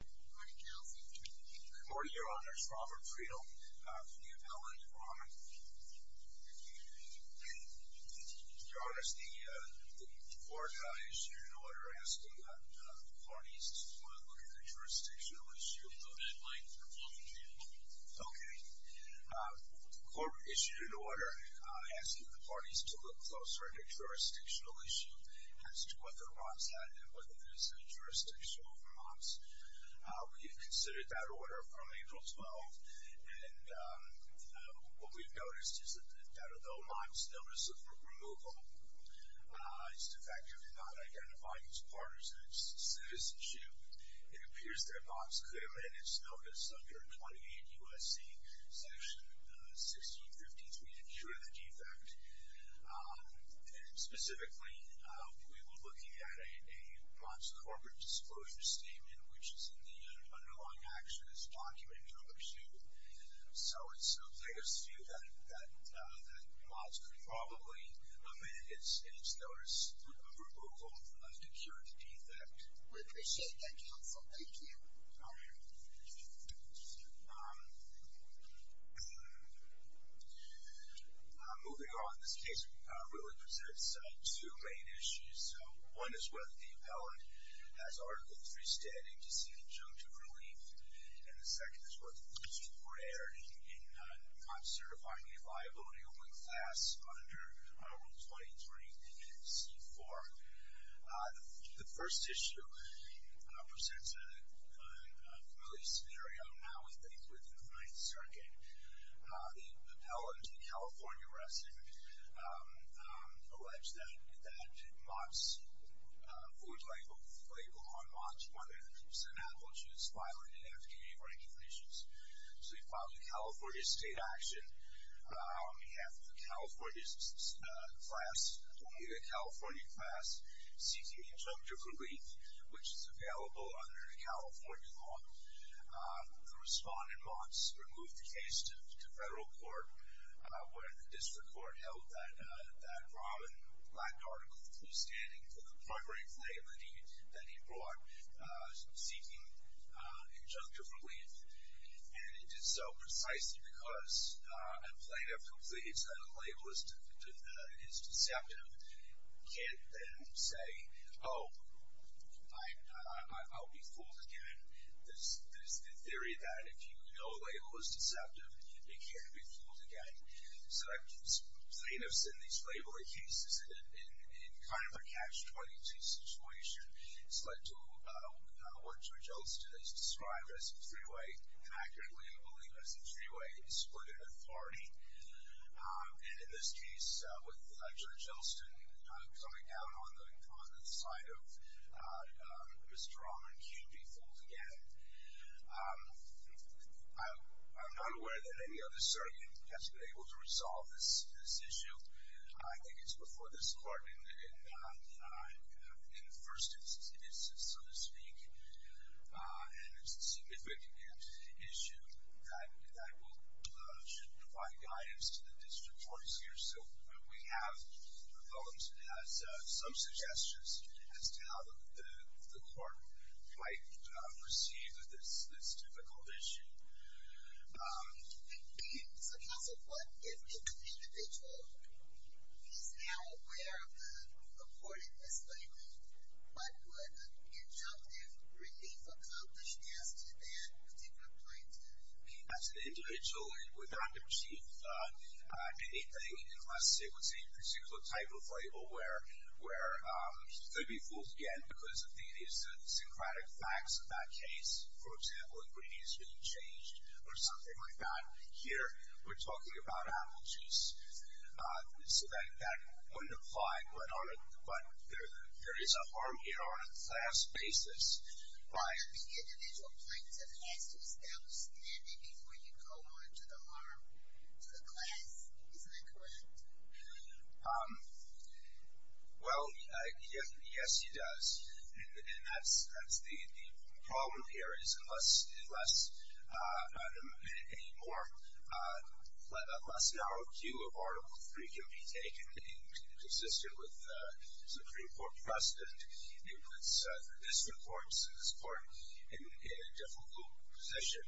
Good morning, Your Honor. It's Robert Friel from the Appellate Department. Your Honor, has the court issued an order asking the parties to look at the jurisdictional issue? No deadline for both of them. Okay. The court issued an order asking the parties to look closer at the jurisdictional issue, as to what the Rahman's had to do with this jurisdictional for Mott's. We have considered that order from April 12th. And what we've noticed is that although Mott's notice of removal is defective and not identifying as part of his citizenship, it appears that Mott's could have been in his notice under 28 U.S.C. section 1653 to cure the defect. And specifically, we were looking at a Mott's corporate disclosure statement, which is in the underlying actions document number two. So it seems, I guess, to me that Mott's could probably have been in his notice of removal to cure the defect. We appreciate that counsel. Thank you. All right. Thank you, Your Honor. Moving on, this case really presents two main issues. One is whether the appellant has Article III standing to seek injunctive relief. And the second is whether the two were aired in non-certifying the liability over the class under Rule 23 and C-4. The first issue presents a familiar scenario. Now we think we're in the Ninth Circuit. The appellant, a California resident, alleged that Mott's food label on Mott's 100% apple juice violated FDA regulations. So he filed a California state action on behalf of the California class, seeking injunctive relief, which is available under California law. The respondent, Mott's, removed the case to federal court, where the district court held that Robin lacked Article III standing for the primary label that he brought, seeking injunctive relief. And it did so precisely because an appellant who pleads that a label is deceptive can't then say, oh, I'll be fooled again. There's the theory that if you know a label is deceptive, you can't be fooled again. So plaintiffs in these labeling cases, in kind of a catch-22 situation, it's led to what Judge Elston has described as a three-way, inaccurately, I believe, as a three-way split in authority. And in this case, with Judge Elston coming out on the side of Mr. Rahman, can't be fooled again. I'm not aware that any other certainty has been able to resolve this issue. I think it's before this court in the first instance, so to speak. And it's a significant issue that should provide guidance to the district courts here. So we have proposed as some suggestions as to how the court might proceed with this difficult issue. So counsel, what if an individual is now aware of the reported mislabeling? What would an injunctive relief accomplish as to that particular plaintiff? As an individual, it would not achieve anything unless it was a particular type of label where could be fooled again because of the idiosyncratic facts of that case. For example, ingredients being changed or something like that. Here, we're talking about apple juice. So that wouldn't apply, but there is a harm here on a class basis. But the individual plaintiff has to establish standing before you go on to the harm, to the class. Isn't that correct? Well, yes, he does. And that's the problem here is unless a more less narrow queue of Article 3 can be taken in consistent with the Supreme Court precedent, it puts the district courts and this court in a difficult position.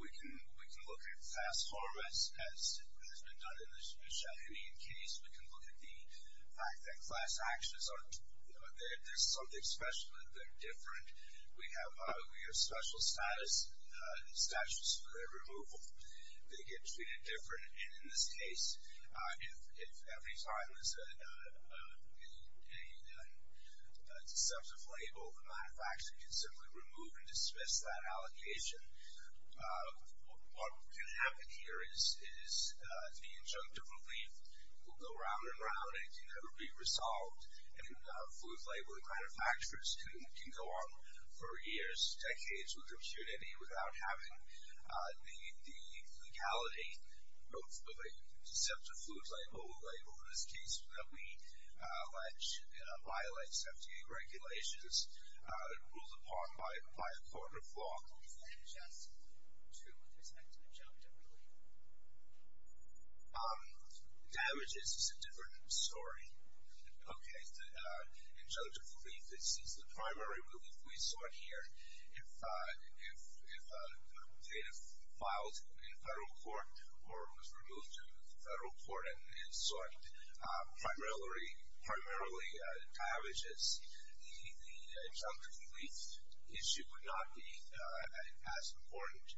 We can look at class harm as has been done in the Sheffian case. We can look at the fact that class actions are, you know, there's something special and they're different. We have special status statutes for their removal. They get treated different. And in this case, if every time there's a deceptive label, the manufacturer can simply remove and dismiss that allocation. What can happen here is the injunctive relief will go round and round and can never be resolved. And food labeling manufacturers can go on for years, decades with impunity, without having the legality of a deceptive food label. In this case, that we allege violates FDA regulations. It rules upon by a court of law. And just to protect injunctive relief. Damages is a different story. Okay, the injunctive relief, this is the primary relief we saw here. If data filed in federal court or was removed in federal court and sought primarily damages, the injunctive relief issue would not be as important.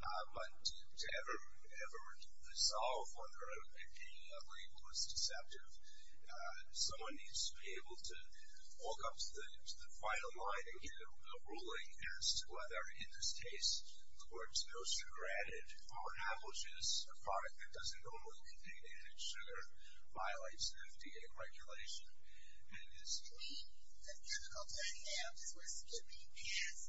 But to ever resolve whether a label is deceptive, someone needs to be able to walk up to the final line and get a ruling as to whether, in this case, the court's no sugar added. Or how much is a product that doesn't normally contain added sugar violates FDA regulation. I mean, the difficult thing to have is we're skipping past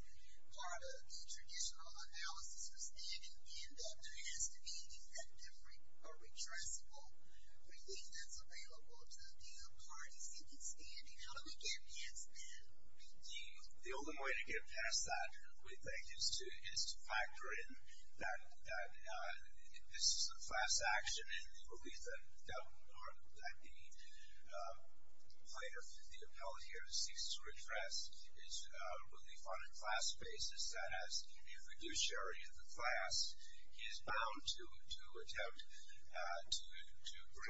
part of the traditional analysis for standing in that there has to be injunctive or redressable relief that's available to the parties seeking standing. How do we get past that? The only way to get past that, we think, is to factor in that this is a class action and the relief that the plaintiff, the appellate here, seeks to redress is a relief on a class basis that has immunofiduciary in the class. He is bound to attempt to bring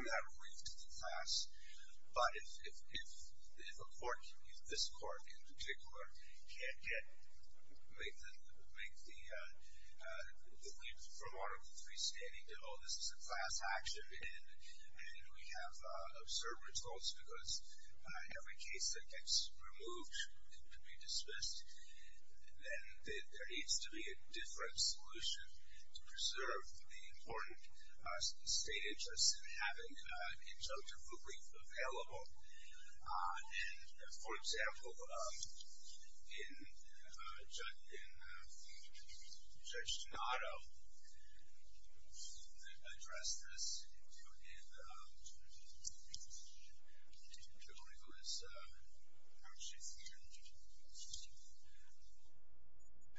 that relief to the class. But if a court, this court in particular, can't make the leap from Article III standing to, oh, this is a class action and we have absurd results because every case that gets removed could be dismissed, then there needs to be a different solution to preserve the important state interests in having injunctive relief available. And, for example, Judge Donato addressed this in Hillary Clinton's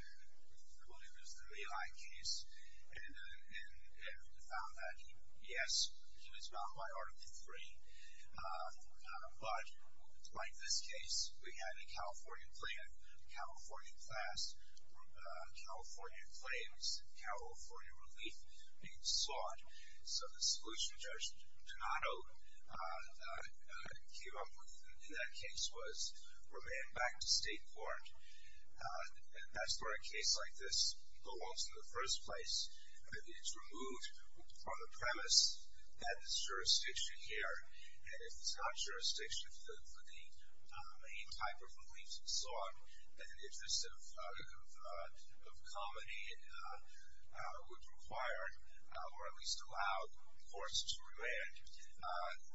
Lehigh case and found that yes, he was bound by Article III. But like this case, we had a California claim, a California class, California claims, California relief being sought. So the solution Judge Donato came up with in that case was remain back to state court. That's where a case like this belongs in the first place. It's removed on the premise that it's jurisdiction here. And if it's not jurisdiction for the main type of relief sought, then an interest of comedy would require, or at least allow, courts to remand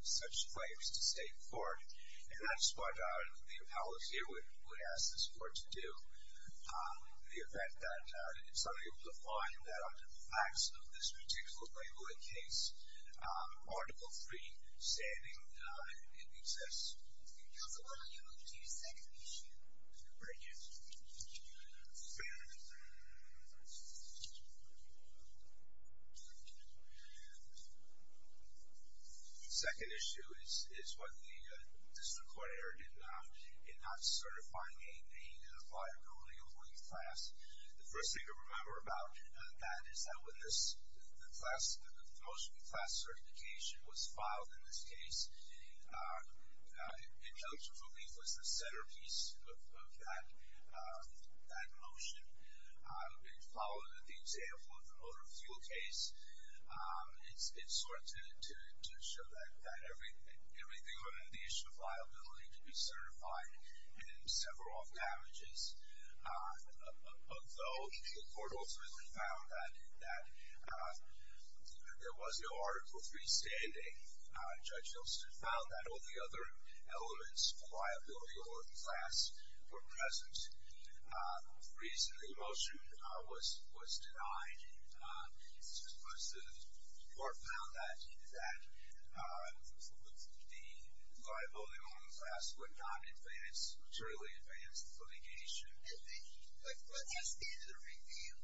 such claims to state court. And that's what the appellate here would ask this court to do. The effect that it's unable to find that under the facts of this particular Lehigh case, Article III standing in excess. Here's the one on your right. Can you second the issue? Right here. Second issue is what the district court heard in not certifying a liability of relief class. The first thing to remember about that is that when this class, the motion for class certification was filed in this case, in terms of relief was the centerpiece of that motion. It followed the example of the motor fuel case. It's sort of to show that everything would have the issue of liability to be certified and sever off damages. Although the court ultimately found that there was no Article III standing, Judge Hilston found that all the other elements of liability or class were present. Recently, the motion was denied. The court found that the liability on the class would not advance, would not fully advance the litigation. What's your standard of review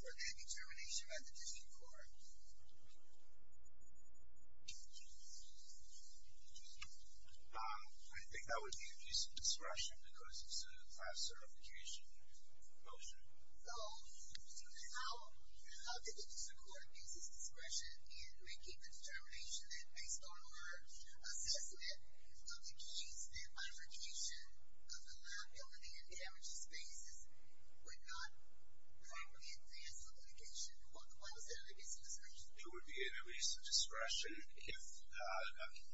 for that determination by the district court? I think that would be an abuse of discretion because it's a class certification motion. How did the district court abuse its discretion in making the determination that, based on our assessment of the case, that bifurcation of the liability and damages basis would not fully advance litigation? Why was that an abuse of discretion? It would be an abuse of discretion if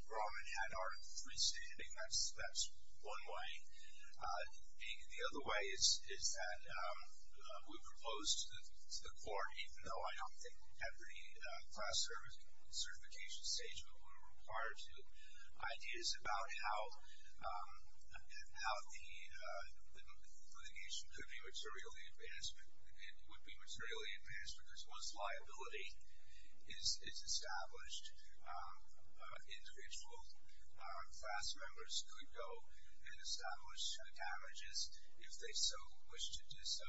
Roman had Article III standing. I suspect that's one way. The other way is that we proposed to the court, even though I don't think at the class certification stage we were required to, ideas about how the litigation could be materially advanced. It would be materially advanced because once liability is established, individual class members could go and establish damages if they so wish to do so.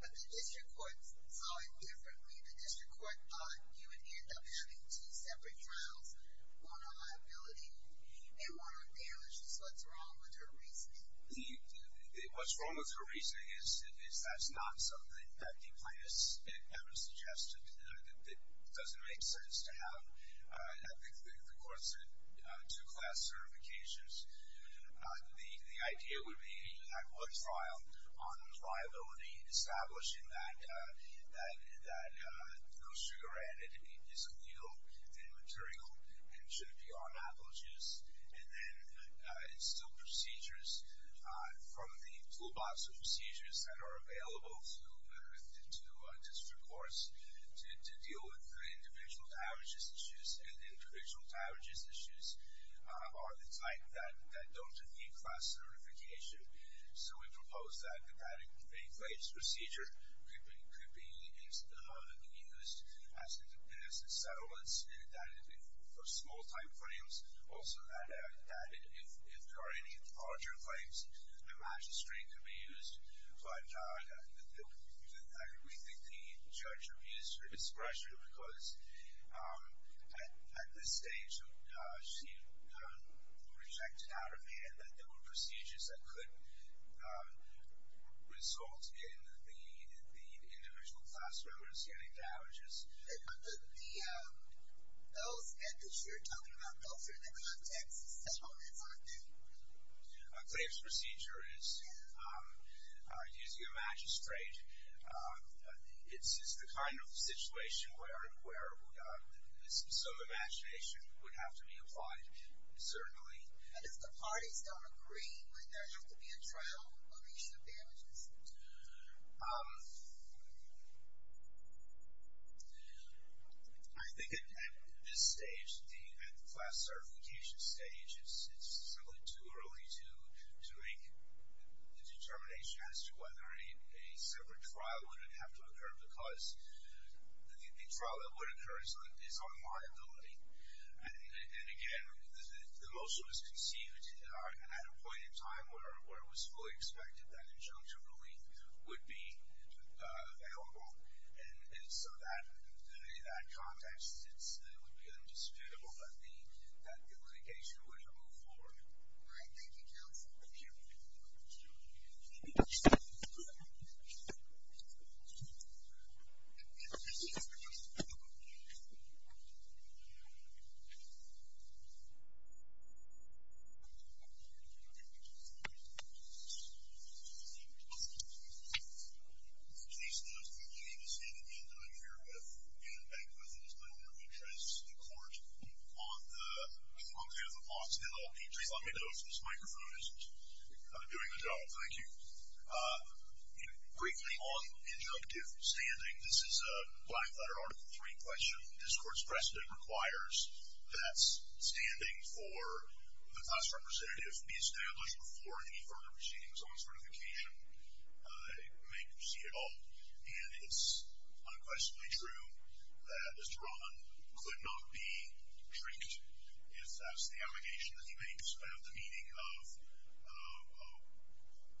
But the district court saw it differently. The district court thought you would end up having two separate trials, one on liability and one on damages. What's wrong with her reasoning? What's wrong with her reasoning is that's not something that the plaintiffs ever suggested. It doesn't make sense to have, I think the court said, two class certifications. The idea would be that one trial on liability, establishing that no sugar added is illegal and material and should be unapologized, and then instill procedures from the toolbox of procedures that are available to district courts to deal with the individual damages issues and the individual damages issues are the type that don't need class certification. So we proposed that a claims procedure could be used as a settlement for small-time claims. Also that if there are any larger claims, a magistrate could be used. But we think the judge abused her discretion because at this stage she rejected out of hand that there were procedures that could result in the individual class members getting damages. Those that you're talking about, those are in the context settlements, aren't they? A claims procedure is using a magistrate. It's the kind of situation where some imagination would have to be applied, certainly. And if the parties don't agree, would there have to be a trial on each of the damages? I think at this stage, at the class certification stage, it's simply too early to make a determination as to whether a separate trial would have to occur because the trial that would occur is on liability. And again, the motion was conceived at a point in time where it was fully expected that injunction relief would be available. And so in that context, it would be indisputable that the litigation would move forward. All right. Thank you, counsel. Thank you. Please note that you need to see the man that I'm here with, and back with in this moment of interest, the court. On behalf of Lawson LLP, please let me know if this microphone isn't doing the job. Thank you. Briefly on injunctive standing, this is a blank letter, Article III question. This court's precedent requires that standing for the class representative be established before any further proceedings on certification may proceed at all. And it's unquestionably true that Mr. Rahman could not be trinked if that's the allegation that he makes about the meaning of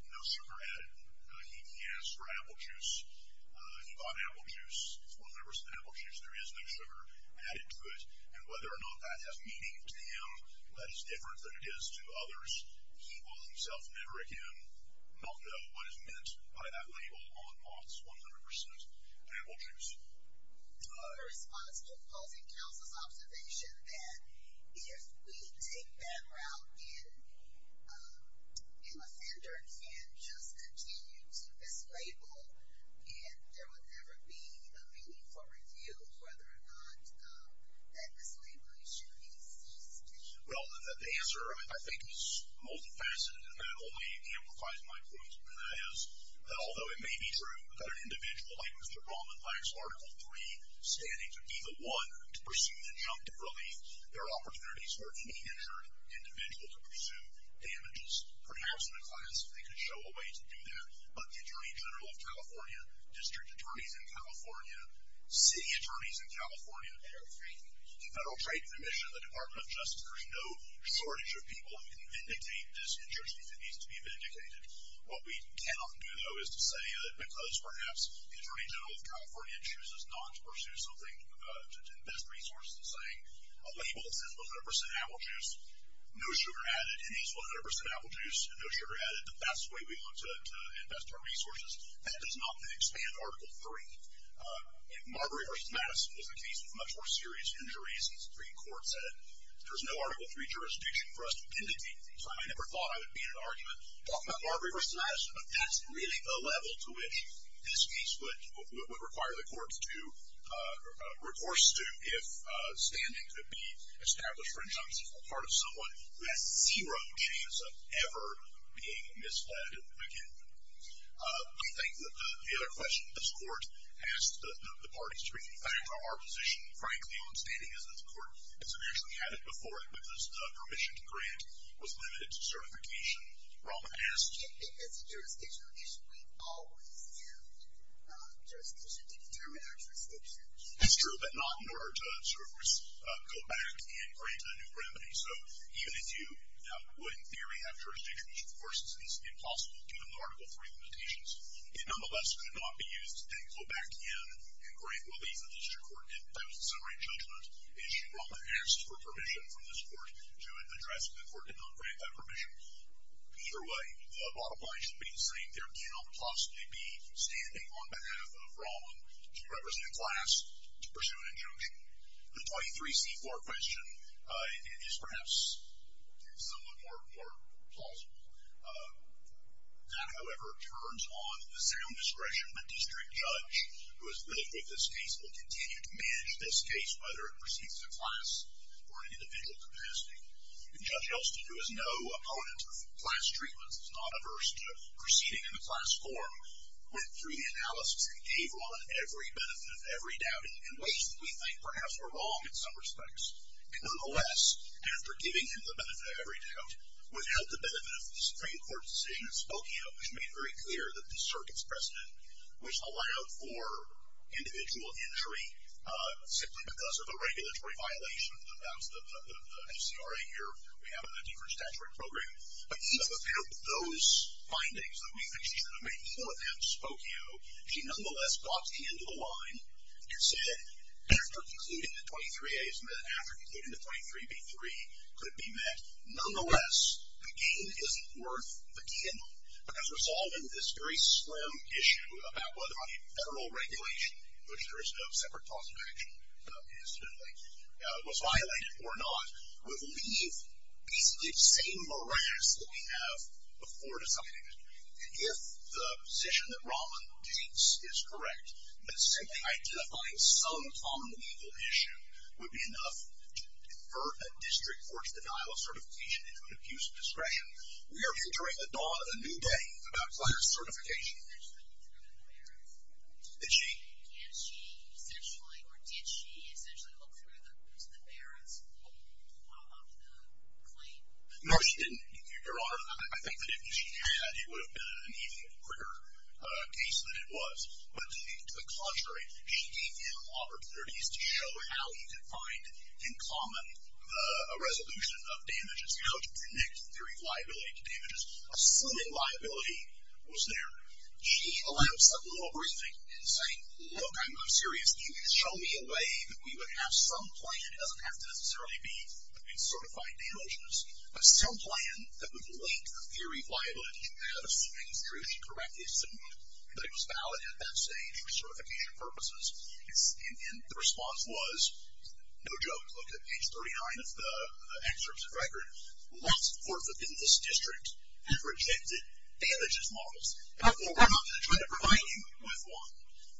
no sugar added. He asked for apple juice. He bought apple juice. If one remembers that apple juice, there is no sugar added to it. And whether or not that has meaning to him, that is different than it is to others, he will himself never again know what is meant by that label on Lawson's 100%. Apple juice. In response to opposing counsel's observation that if we take that route, an offender can just continue to mislabel, and there would never be a meaningful review whether or not that mislabeling should be ceased. Well, the answer, I think, is multifaceted, and that only amplifies my point. And that is, although it may be true that an individual like Mr. Rahman lacks Article III standing to be the one to pursue injunctive relief, there are opportunities for a teen-injured individual to pursue damages, perhaps in a class if they could show a way to do that. But the Attorney General of California, district attorneys in California, city attorneys in California, the Federal Trade Commission, the Department of Justice, there is no shortage of people who can vindicate this injustice. It needs to be vindicated. What we cannot do, though, is to say that because, perhaps, the Attorney General of California chooses not to pursue something in best resources, saying a label that says 100% apple juice, no sugar added, and he's 100% apple juice and no sugar added, that's the way we want to invest our resources. That does not expand Article III. Marbury v. Madison was a case with much more serious injuries, and the Supreme Court said there's no Article III jurisdiction for us to vindicate. So I never thought I would be in an argument talking about Marbury v. Madison, but that's really the level to which this case would require the courts to recourse to if standing could be established for injustice on the part of someone who has zero chance of ever being misled again. We think that the other question, this Court asked the parties to reconfirm our position, frankly, on standing is that the Court has eventually had it before it, but this permission to grant was limited to certification. Rahma asked. It is a jurisdictional issue. We always have jurisdiction to determine our jurisdiction. It's true, but not in order to go back and grant a new remedy. So even if you would, in theory, have jurisdiction, which, of course, is impossible given the Article III limitations, it nonetheless could not be used to go back in and grant relief to the District Court in summary judgment issue Rahma asked for permission from this Court to address the Court did not grant that permission. Either way, the bottom line should be the same. There cannot possibly be standing on behalf of Rahma to represent a class to pursue an injunction. The 23C4 question is perhaps somewhat more plausible. That, however, turns on the sound discretion of a district judge who has lived with this case and will continue to manage this case, whether it proceeds to class or an individual capacity. And Judge Elston, who is no opponent of class treatments, is not averse to proceeding in the class form, went through the analysis and gave Rahma every benefit of every doubt in ways that we think perhaps were wrong in some respects. In the OS, after giving him the benefit of every doubt, without the benefit of the Supreme Court decision in Spokane, which made very clear that the circuit's precedent, which allowed for individual injury simply because of a regulatory violation, that's the FCRA here, we have a different statutory program, but even without those findings that we think she should have made, even without Spokane, she nonetheless got to the end of the line and said, after concluding the 23As and then after concluding the 23B3, could it be met? Nonetheless, the gain isn't worth the gain, because resolving this very slim issue about whether a federal regulation, which there is no separate cause of action, incidentally, was violated or not, would leave basically the same morass that we have before deciding it. And if the position that Rahma takes is correct, that simply identifying some common legal issue would be enough to convert a district court's denial of certification into an abuse of discretion, we are entering a new day about class certification. Did she? Can she essentially, or did she essentially look through the merits of the claim? No, she didn't, Your Honor. I think that if she had, it would have been an even quicker case than it was. But to the contrary, she gave him opportunities to show how he could find in common a resolution of damages, how to predict the reliability of damages, assuming liability was there. She allowed some little briefing in saying, look, I'm serious. You can show me a way that we would have some plan. It doesn't have to necessarily be in certified damages, but some plan that would link the theory of liability to that assuming it's really correctly assumed that it was valid at that stage for certification purposes. And the response was, no joke, look at page 39 of the excerpt of the record. Lots of courts within this district have rejected damages models. Therefore, we're not going to try to provide you with one.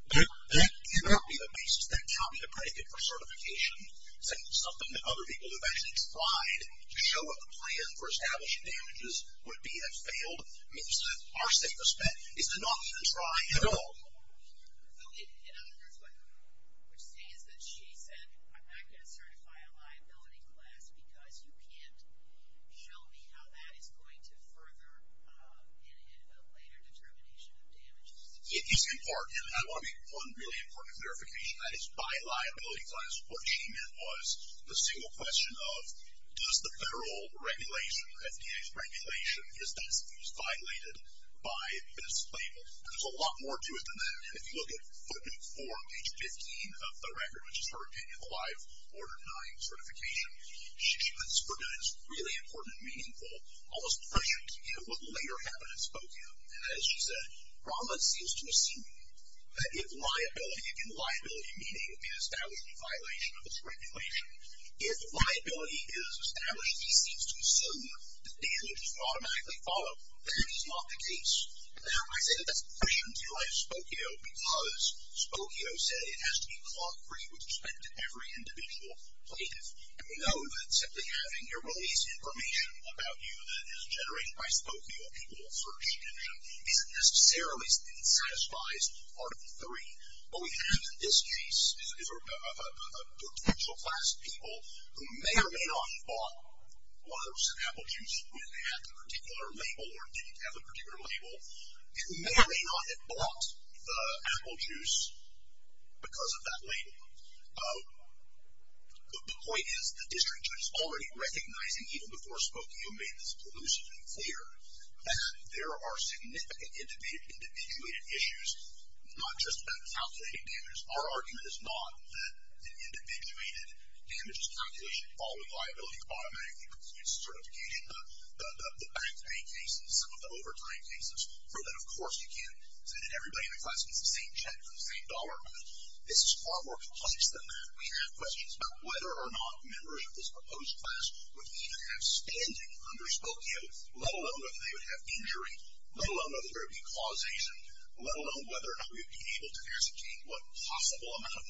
That cannot be the basis, that cannot be the predicate for certification. It's not something that other people have actually tried to show what the plan for establishing damages would be that failed. It means that our safest bet is to not even try at all. So, in other words, what you're saying is that she said, I'm not going to certify a liability class because you can't show me how that is going to further in a later determination of damages. It is in part, and I want to make one really important clarification, that is by liability class, what she meant was the single question of, does the federal regulation, FDA's regulation, is that abuse violated by this label? And there's a lot more to it than that. And if you look at footnote 4, page 15 of the record, which is her opinion of a live Order 9 certification, she has produced really important and meaningful, almost prescient, what later happened in Spokane. And as she said, Rahman seems to assume that if liability, again liability meaning an establishment violation of this regulation, if liability is established, if he seems to assume that damage is automatically followed, that is not the case. Now, I say that that's prescient to Spokio because Spokio said it has to be claught free with respect to every individual plaintiff. And we know that simply having your release information about you that is generated by Spokio, people will search the internet, isn't necessarily and satisfies Article 3. What we have in this case is a potential class of people who may or may not have bought whether it was an apple juice when they had the particular label or didn't have a particular label. And who may or may not have bought the apple juice because of that label. The point is the district judge is already recognizing, even before Spokio made this elusive and clear, that there are significant individuated issues, not just about calculating damage. Our argument is not that an individuated damages calculation following liability automatically completes certification. The bank pay cases, some of the overtime cases, prove that of course you can't send in everybody in the class with the same check for the same dollar amount. This is far more complex than that. We have questions about whether or not members of this proposed class would even have standing under Spokio, let alone whether they would have injury, let alone whether there would be causation, let alone whether or not we would be able to ascertain what possible amount of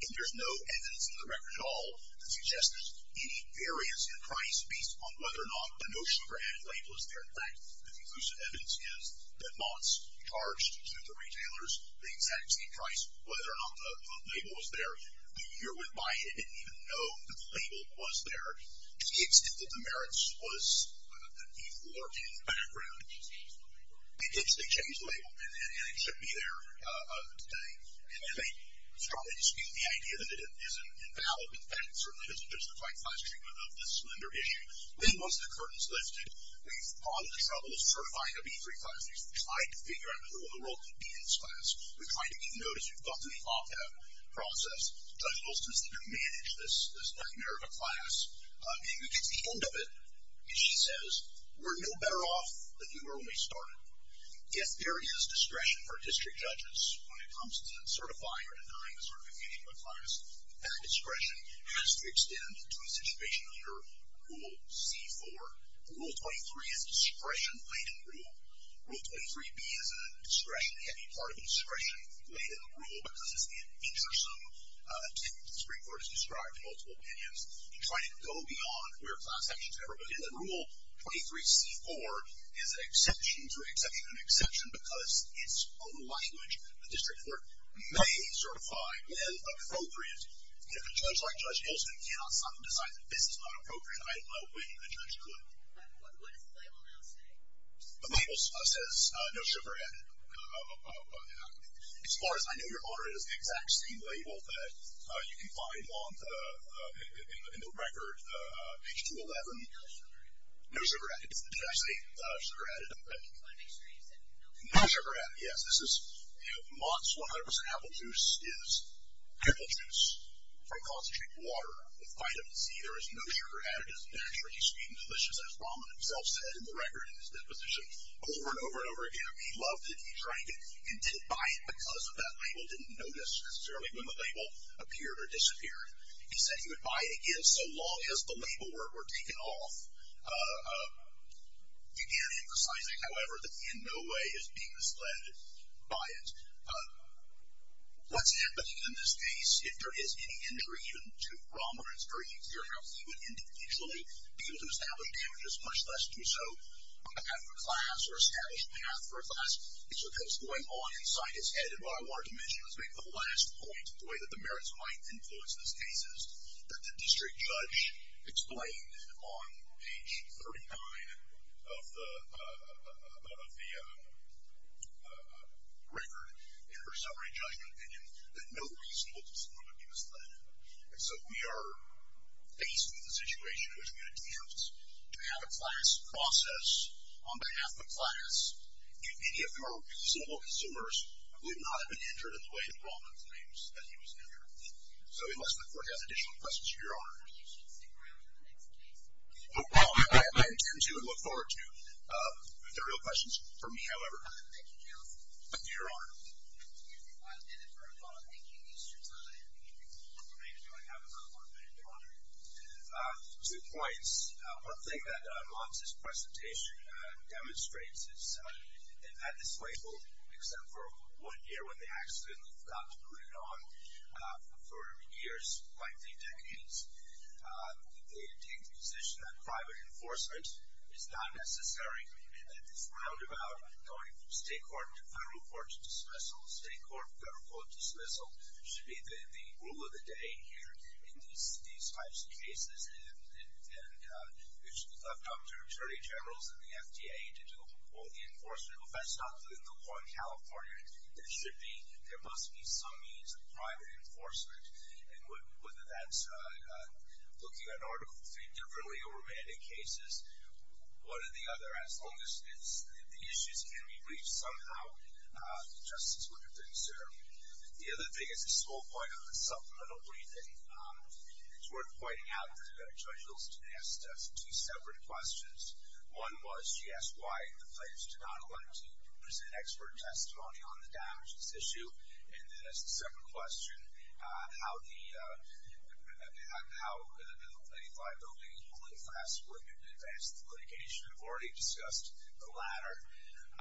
And there's no evidence in the record at all that suggests there's any variance in price based upon whether or not the no sugar added label is there. In fact, the elusive evidence is that months charged to the retailers, the exact same price, whether or not the label was there. A year went by, they didn't even know that the label was there. The extent of the merits was that people lurking in the background. They changed the label and it shouldn't be there today. And they strongly dispute the idea that it isn't invalid. In fact, it certainly isn't justified class treatment of this lender issue. Then once the curtain's lifted, we've gone to the trouble of certifying a B3 class. We've tried to figure out who in the world could be in this class. We've tried to get notice. We've gone through the lockdown process. Judge Wilson's the new manager of this nightmare of a class. And we get to the end of it, and she says, we're no better off than you were when we started. Yes, there is discretion for district judges when it comes to certifying or denying the certification of a class. That discretion has to extend to a situation under Rule C4. Rule 23 is a discretion-laden rule. Rule 23B is a discretion-heavy part of a discretion-laden rule, because it's the incursome to, as the Supreme Court has described, multiple opinions. You try to go beyond where class actions ever begin. And Rule 23C4 is an exception to an exception to an exception, because it's own language. The district court may certify when appropriate. If a judge like Judge Wilson cannot stop and decide that this is not appropriate, I don't know when a judge could. What does the label now say? The label says no sugar added. As far as I know, your order is the exact same label that you can find in the record, page 211. No sugar added. Did I say sugar added? I want to make sure you said no sugar added. No sugar added, yes. This is, you know, Mott's 100% apple juice is apple juice from concentrated water with vitamin C. There is no sugar added. It is naturally sweet and delicious, as Raman himself said in the record, in his deposition, over and over and over again. He loved it. He drank it and didn't buy it because that label didn't notice necessarily when the label appeared or disappeared. He said he would buy it again so long as the label were taken off. Again, emphasizing, however, that he in no way is being misled by it. What's happening in this case, if there is any injury even to Raman, it's very clear how he would individually be able to establish damages, much less do so on behalf of a class or establish a path for a class, is what's going on inside his head. And what I wanted to mention is maybe the last point, the way that the merits might influence this case, is that the district judge explained on page 39 of the record in her summary judgment opinion that no reasonable disorder would be misled. And so we are faced with a situation in which we attempt to have a class process on behalf of a class. If any of our reasonable consumers would not have been injured in the way that Raman claims that he was injured. So unless the court has additional questions, your Honor. I think you should stick around for the next case. Well, I intend to and look forward to if there are real questions. For me, however. Thank you, Justice. Your Honor. Excuse me. I'll end it for a moment. Thank you, Mr. Tyler. Thank you. I'm going to have about one minute, Your Honor. Two points. One thing that Mons' presentation demonstrates is that this label, except for one year when the accident, we've got to put it on for years, likely decades. It takes the position that private enforcement is not necessary. That this roundabout going from state court to federal court to dismissal, state court, federal court, dismissal, should be the rule of the day here in these types of cases. It should be left up to attorney generals and the FDA to do the enforcement. If that's not in the law in California, it should be there must be some means of private enforcement. And whether that's looking at Article III differently or Raman in cases, one or the other. As long as the issues can be reached somehow, the justice would have been served. The other thing is a small point on the supplemental briefing. It's worth pointing out that Judge Hulston asked us two separate questions. One was, she asked why the plaintiffs did not elect to present expert testimony on the damages issue. And then as a separate question, how the Lady Fly building holy flask would advance the litigation. I've already discussed the latter.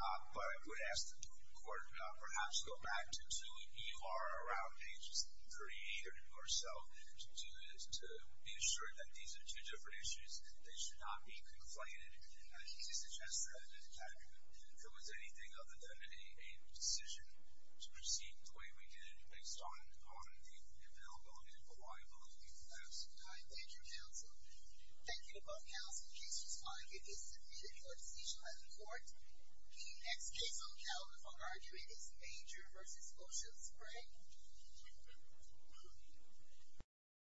But I would ask the court to perhaps go back to EUR around pages 38 to do this, to be assured that these are two different issues. They should not be conflated. And to suggest that there was anything other than a decision to proceed the way we did based on the availability of the liability of the flask. Thank you, counsel. Thank you to both counsel. The case was fine. It is submitted for decision by the court. The next case on the calendar for argument is Major versus Ocean Spray. Thank you.